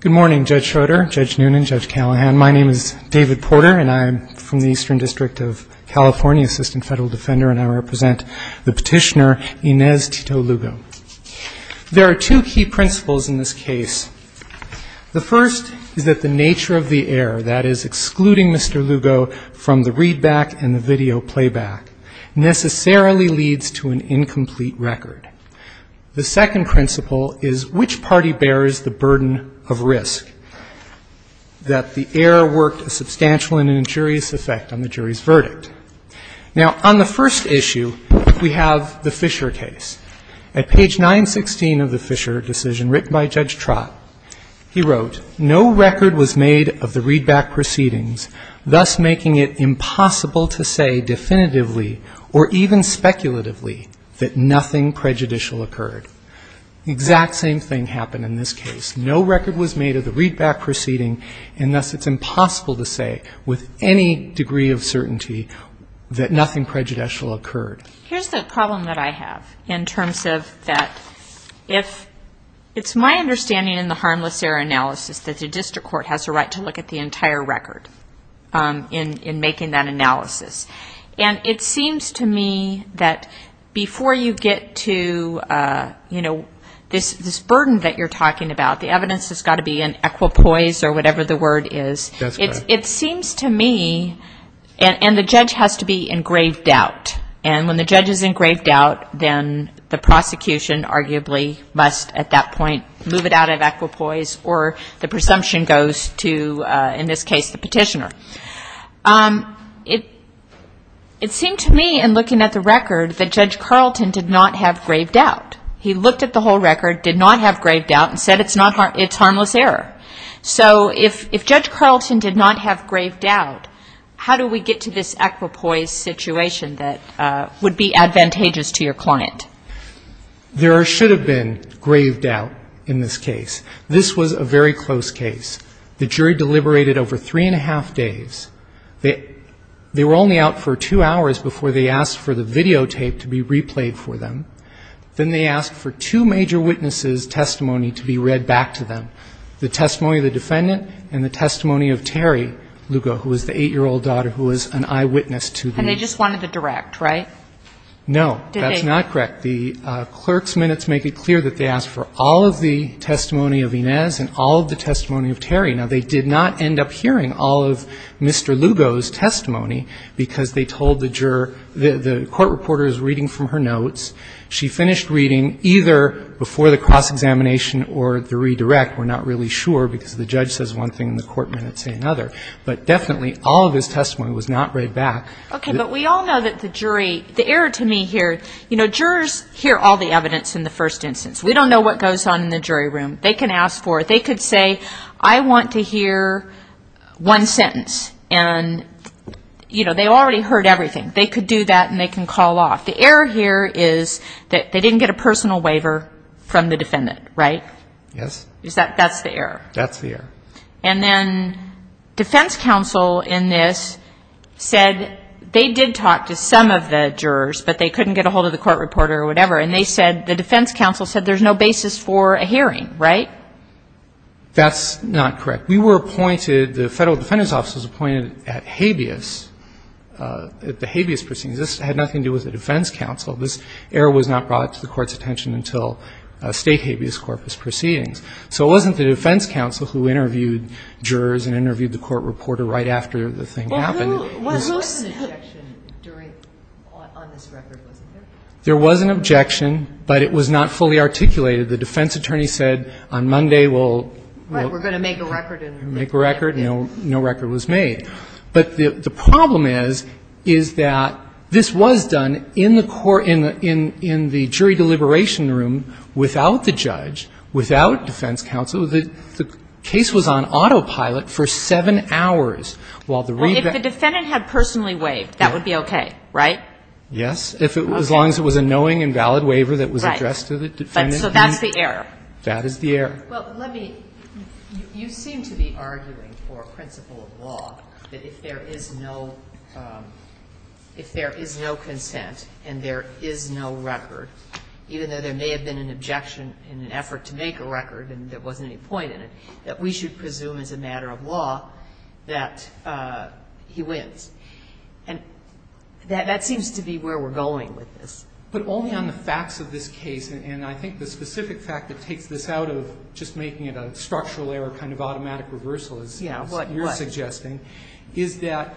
Good morning, Judge Schroeder, Judge Noonan, Judge Callahan. My name is David Porter, and I am from the Eastern District of California, Assistant Federal Defender, and I represent the petitioner Inez Tito Lugo. There are two key principles in this case. The first is that the nature of the error, that is, excluding Mr. Lugo from the readback and the video playback, necessarily leads to an incomplete record. The second principle is which party bears the burden of risk, that the error worked a substantial and injurious effect on the jury's verdict. Now, on the first issue, we have the Fisher case. At page 916 of the Fisher decision, written by Judge Trott, he wrote, No record was made of the readback proceedings, thus making it impossible to say definitively or even speculatively that nothing prejudicial occurred. The exact same thing happened in this case. No record was made of the readback proceeding, and thus it's impossible to say with any degree of certainty that nothing prejudicial occurred. Here's the problem that I have in terms of that if it's my understanding in the harmless error analysis that the district court has a right to look at the entire record in making that analysis. And it seems to me that before you get to, you know, this burden that you're talking about, the evidence has got to be in equipoise or whatever the word is. It seems to me, and the judge has to be engraved out. And when the judge is engraved out, then the prosecution arguably must at that point move it out of equipoise or the presumption goes to, in this case, the petitioner. It seemed to me in looking at the record that Judge Carlton did not have graved out. He looked at the whole record, did not have graved out, and said it's harmless error. So if Judge Carlton did not have graved out, how do we get to this equipoise situation that would be advantageous to your client? There should have been graved out in this case. This was a very close case. The jury deliberated over three and a half days. They were only out for two hours before they asked for the videotape to be replayed for them. Then they asked for two major witnesses' testimony to be read back to them, the testimony of the defendant and the testimony of Terry Lugo, who was the 8-year-old daughter who was an eyewitness to the case. And they just wanted to direct, right? No, that's not correct. The clerk's minutes make it clear that they asked for all of the testimony of Inez and all of the testimony of Terry. Now, they did not end up hearing all of Mr. Lugo's testimony because they told the juror the court reporter is reading from her notes. She finished reading either before the cross-examination or the redirect. We're not really sure because the judge says one thing and the court minutes say another. But definitely all of his testimony was not read back. Okay, but we all know that the jury, the error to me here, you know, jurors hear all the evidence in the first instance. We don't know what goes on in the jury room. They can ask for it. They could say, I want to hear one sentence. And, you know, they already heard everything. They could do that and they can call off. The error here is that they didn't get a personal waiver from the defendant, right? Yes. That's the error. That's the error. And then defense counsel in this said they did talk to some of the jurors, but they couldn't get a hold of the court reporter or whatever. And they said, the defense counsel said there's no basis for a hearing, right? That's not correct. We were appointed, the Federal Defendant's Office was appointed at habeas, at the habeas proceedings. This had nothing to do with the defense counsel. This error was not brought to the court's attention until state habeas corpus proceedings. So it wasn't the defense counsel who interviewed jurors and interviewed the court reporter right after the thing happened. Well, there was an objection during, on this record, wasn't there? There was an objection, but it was not fully articulated. The defense attorney said on Monday we'll make a record. No record was made. But the problem is, is that this was done in the court, in the jury deliberation room, without the judge, without defense counsel. The case was on autopilot for 7 hours, while the revetment. Well, if the defendant had personally waived, that would be okay, right? Yes. As long as it was a knowing and valid waiver that was addressed to the defendant. Right. So that's the error. That is the error. Well, let me, you seem to be arguing for principle of law that if there is no, if there is no consent and there is no record, even though there may have been an objection in an effort to make a record and there wasn't any point in it, that we should presume as a matter of law that he wins. And that seems to be where we're going with this. But only on the facts of this case, and I think the specific fact that takes this out of just making it a structural error, kind of automatic reversal, as you're suggesting, is that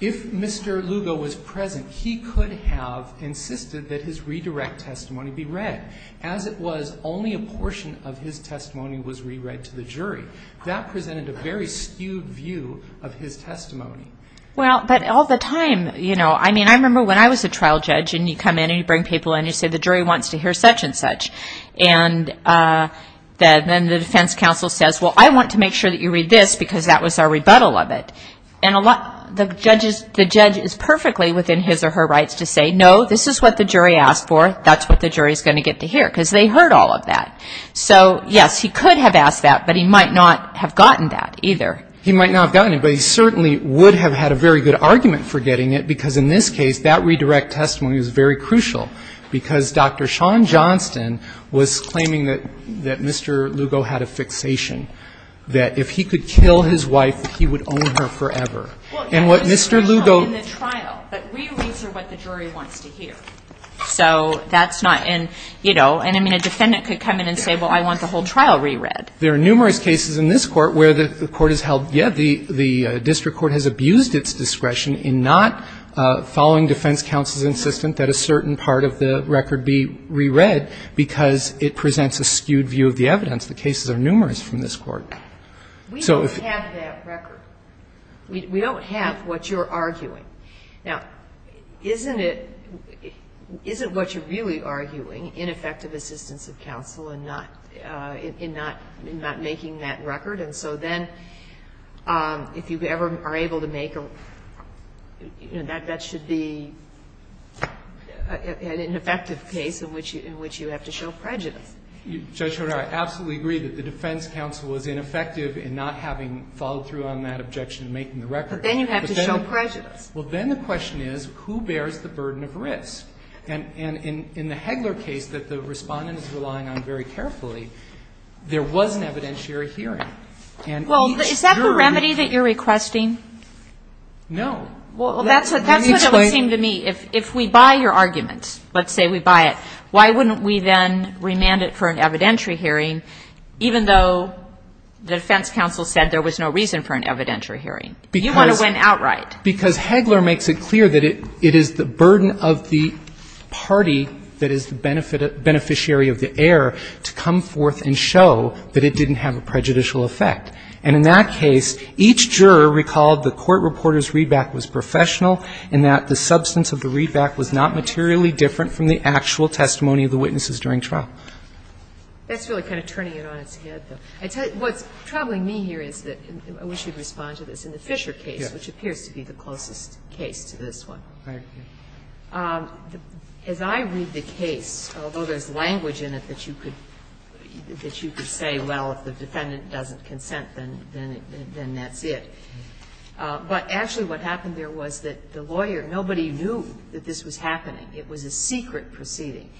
if Mr. Lugo was present, he could have insisted that his redirect testimony be read. As it was, only a portion of his testimony was re-read to the jury. That presented a very skewed view of his testimony. Well, but all the time, you know, I mean, I remember when I was a trial judge and you come in and you bring people in and you say the jury wants to hear such and such. And then the defense counsel says, well, I want to make sure that you read this because that was our rebuttal of it. And the judge is perfectly within his or her rights to say, no, this is what the jury asked for, that's what the jury is going to get to hear, because they heard all of that. So, yes, he could have asked that, but he might not have gotten that either. He might not have gotten it, but he certainly would have had a very good argument for getting it, because in this case, that redirect testimony was very crucial because Dr. Sean Johnston was claiming that Mr. Lugo had a fixation, that if he could kill his wife, that he would own her forever. And what Mr. Lugo --- Well, you have discretion in the trial, but we reason what the jury wants to hear. So that's not in, you know, and I mean, a defendant could come in and say, well, I want the whole trial reread. There are numerous cases in this Court where the Court has held, yes, the district court has abused its discretion in not following defense counsel's insistence that a certain part of the record be reread because it presents a skewed view of the evidence. The cases are numerous from this Court. We don't have that record. We don't have what you're arguing. Now, isn't it, isn't what you're really arguing ineffective assistance of counsel and not, in not making that record? And so then if you ever are able to make a, you know, that should be an ineffective case in which you have to show prejudice. Judge Sotomayor, I absolutely agree that the defense counsel was ineffective in not having followed through on that objection and making the record. But then you have to show prejudice. Well, then the question is, who bears the burden of risk? And in the Hegler case that the Respondent is relying on very carefully, there was an evidentiary hearing. And each jury that ---- Well, is that the remedy that you're requesting? No. Well, that's what it would seem to me. Let me explain. If we buy your argument, let's say we buy it, why wouldn't we then remand it for an evidentiary hearing, even though the defense counsel said there was no reason for an evidentiary hearing? You want to win outright. Because Hegler makes it clear that it is the burden of the party that is the beneficiary of the error to come forth and show that it didn't have a prejudicial effect. And in that case, each juror recalled the court reporter's readback was professional and that the substance of the readback was not materially different from the actual testimony of the witnesses during trial. That's really kind of turning it on its head, though. What's troubling me here is that we should respond to this. In the Fisher case, which appears to be the closest case to this one, as I read the case, although there's language in it that you could say, well, if the defendant doesn't consent, then that's it. But actually what happened there was that the lawyer, nobody knew that this was happening. It was a secret proceeding.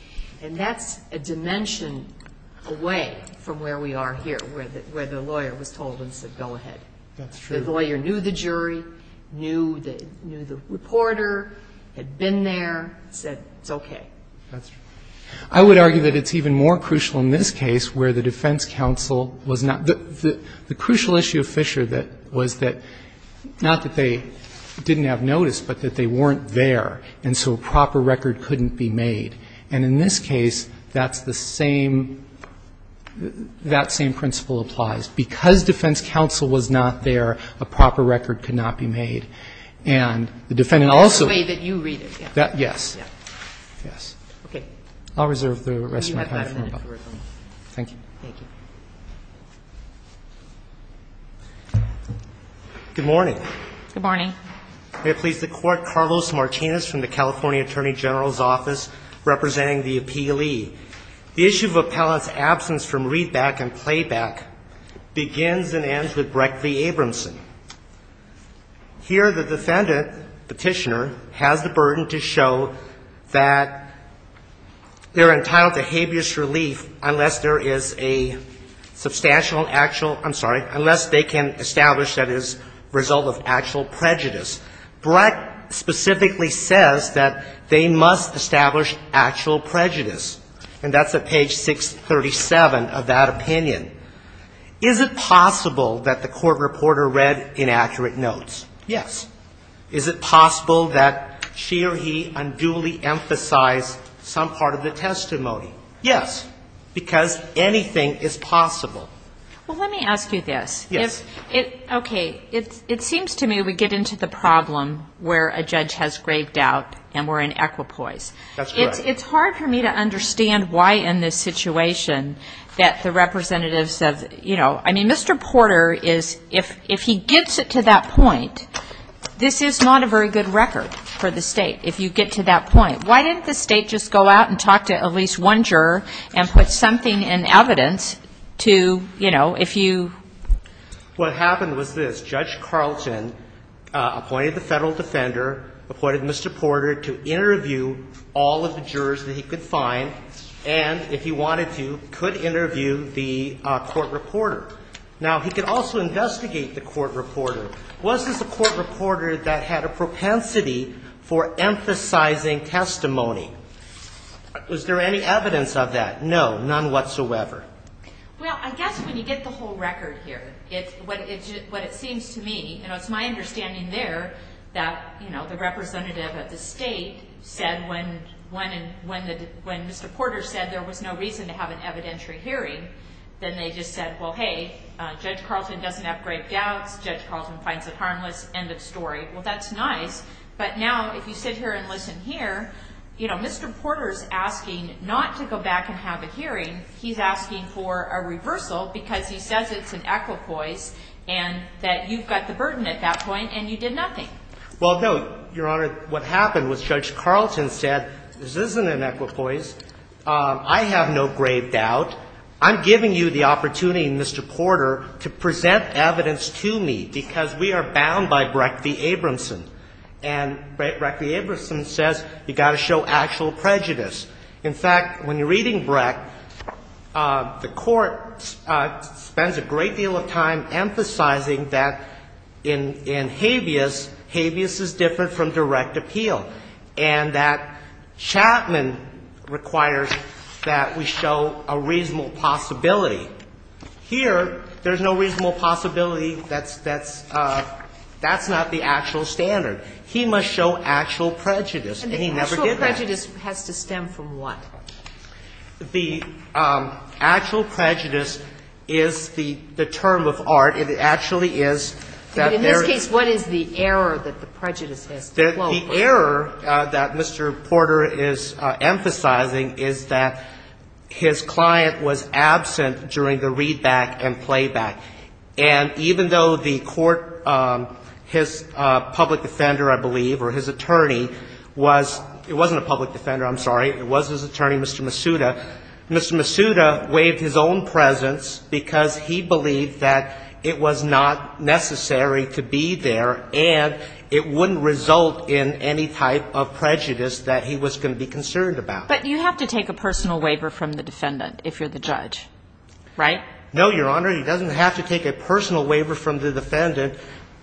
And that's a dimension away from where we are here, where the lawyer was told and said go ahead. That's true. The lawyer knew the jury, knew the reporter, had been there, said it's okay. That's true. I would argue that it's even more crucial in this case where the defense counsel was not the the crucial issue of Fisher that was that not that they didn't have notice, but that they weren't there. And so a proper record couldn't be made. And in this case, that's the same, that same principle applies. Because defense counsel was not there, a proper record could not be made. And the defendant also. That's the way that you read it. Yes. Yes. Okay. I'll reserve the rest of my time. Thank you. Thank you. Good morning. Good morning. May it please the Court. Carlos Martinez from the California Attorney General's Office representing the Appealee. The issue of Appellant's absence from readback and playback begins and ends with Brecht v. Abramson. Here, the defendant, Petitioner, has the burden to show that they're entitled to habeas relief unless there is a substantial actual, I'm sorry, unless they can establish that as a result of actual prejudice. Brecht specifically says that they must establish actual prejudice. And that's at page 637 of that opinion. Is it possible that the court reporter read inaccurate notes? Yes. Is it possible that she or he unduly emphasized some part of the testimony? Yes. Because anything is possible. Well, let me ask you this. Yes. Okay. It seems to me we get into the problem where a judge has graved out and we're in equipoise. That's right. It's hard for me to understand why in this situation that the representatives of, you know, I mean, Mr. Porter is, if he gets it to that point, this is not a very good record for the state if you get to that point. Why didn't the state just go out and talk to at least one juror and put something in evidence to, you know, if you ---- What happened was this. Judge Carlton appointed the Federal Defender, appointed Mr. Porter to interview all of the jurors that he could find and, if he wanted to, could interview the court reporter. Now, he could also investigate the court reporter. Was this a court reporter that had a propensity for emphasizing testimony? Was there any evidence of that? No, none whatsoever. Well, I guess when you get the whole record here, what it seems to me, you know, it's my understanding there that, you know, the representative of the state said when Mr. Porter said there was no reason to have an evidentiary hearing, then they just said, well, hey, Judge Carlton doesn't have grave doubts. Judge Carlton finds it harmless. End of story. Well, that's nice. But now, if you sit here and listen here, you know, Mr. Porter's asking not to go back and have a hearing. He's asking for a reversal because he says it's an equipoise and that you've got the burden at that point and you did nothing. Well, no, Your Honor, what happened was Judge Carlton said this isn't an equipoise. I have no grave doubt. I'm giving you the opportunity, Mr. Porter, to present evidence to me because we are bound by Brecht v. Abramson. And Brecht v. Abramson says you've got to show actual prejudice. In fact, when you're reading Brecht, the Court spends a great deal of time emphasizing that in habeas, habeas is different from direct appeal, and that Chapman requires that we show a reasonable possibility. Here, there's no reasonable possibility. That's not the actual standard. He must show actual prejudice, and he never did that. And the actual prejudice has to stem from what? The actual prejudice is the term of art. It actually is that there is. But in this case, what is the error that the prejudice has? The error that Mr. Porter is emphasizing is that his client was absent during the readback and playback. And even though the Court, his public defender, I believe, or his attorney was — it wasn't a public defender, I'm sorry. It was his attorney, Mr. Masuda. Mr. Masuda waived his own presence because he believed that it was not necessary to be there and it wouldn't result in any type of prejudice that he was going to be concerned about. But you have to take a personal waiver from the defendant if you're the judge, right? No, Your Honor. He doesn't have to take a personal waiver from the defendant.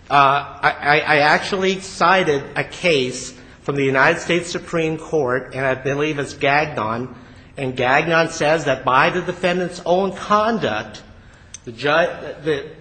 I actually cited a case from the United States Supreme Court, and I believe it's Gagnon. And Gagnon says that by the defendant's own conduct, the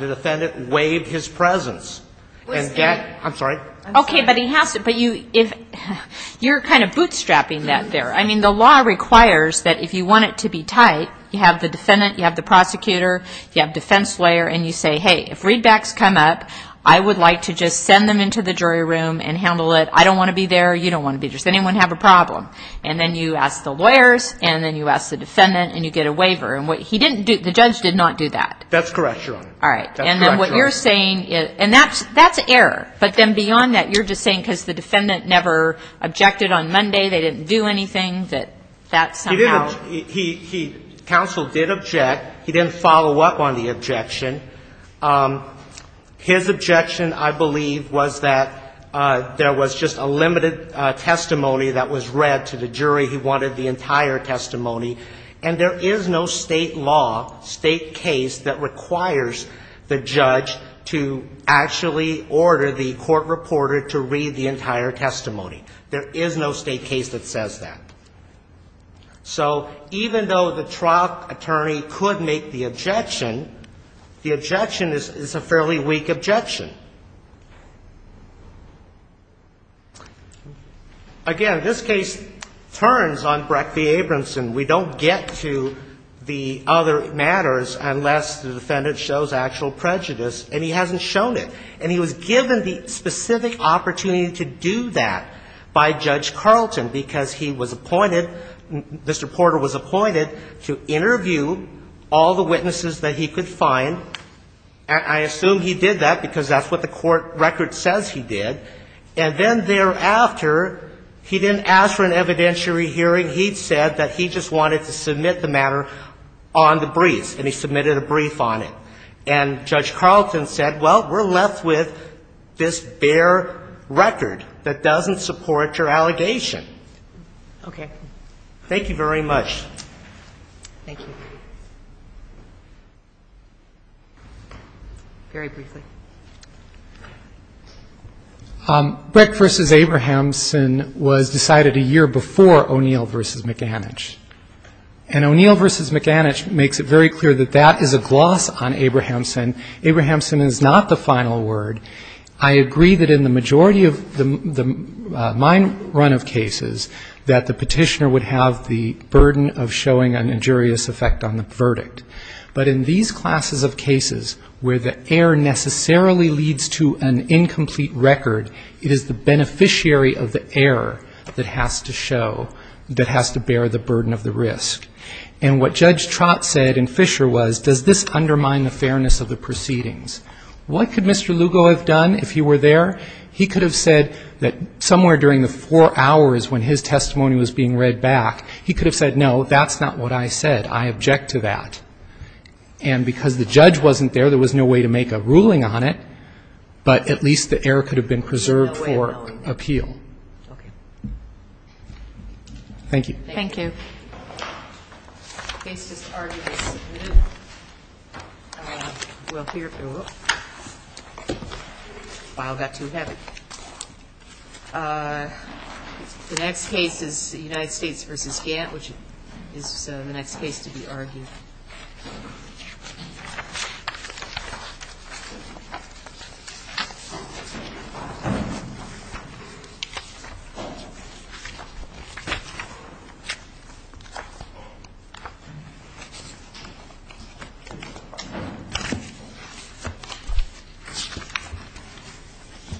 defendant waived his presence. I'm sorry. Okay, but he has to — but you're kind of bootstrapping that there. I mean, the law requires that if you want it to be tight, you have the defendant, you have the prosecutor, you have defense lawyer, and you say, hey, if readbacks come up, I would like to just send them into the jury room and handle it. I don't want to be there. You don't want to be there. Does anyone have a problem? And then you ask the lawyers, and then you ask the defendant, and you get a waiver. And what he didn't do — the judge did not do that. That's correct, Your Honor. All right. And then what you're saying — and that's error. But then beyond that, you're just saying because the defendant never objected on Monday, they didn't do anything, that that's somehow — He didn't — he — counsel did object. He didn't follow up on the objection. His objection, I believe, was that there was just a limited testimony that was read to the jury. He wanted the entire testimony. And there is no state law, state case, that requires the judge to actually order the court reporter to read the entire testimony. There is no state case that says that. The objection is a fairly weak objection. Again, this case turns on Breck v. Abramson. We don't get to the other matters unless the defendant shows actual prejudice, and he hasn't shown it. And he was given the specific opportunity to do that by Judge Carlton because he was appointed — Mr. Porter was appointed to interview all the witnesses that he could find. I assume he did that because that's what the court record says he did. And then thereafter, he didn't ask for an evidentiary hearing. He said that he just wanted to submit the matter on the briefs, and he submitted a brief on it. And Judge Carlton said, well, we're left with this bare record that doesn't support your allegation. Okay. Thank you very much. Thank you. Very briefly. Breck v. Abramson was decided a year before O'Neill v. McAnich. And O'Neill v. McAnich makes it very clear that that is a gloss on Abramson. Abramson is not the final word. I agree that in the majority of the — my run of cases, that the Petitioner would have the burden of showing an injurious effect on the verdict. But in these classes of cases where the error necessarily leads to an incomplete record, it is the beneficiary of the error that has to show — that has to bear the burden of the risk. And what Judge Trott said in Fisher was, does this undermine the fairness of the proceedings? What could Mr. Lugo have done if he were there? He could have said that somewhere during the four hours when his testimony was being read back, he could have said, no, that's not what I said. I object to that. And because the judge wasn't there, there was no way to make a ruling on it, but at least the error could have been preserved for appeal. Okay. Thank you. Thank you. The case is argued and submitted. We'll hear — wow, that got too heavy. The next case is the United States v. Gantt, which is the next case to be argued. Thank you.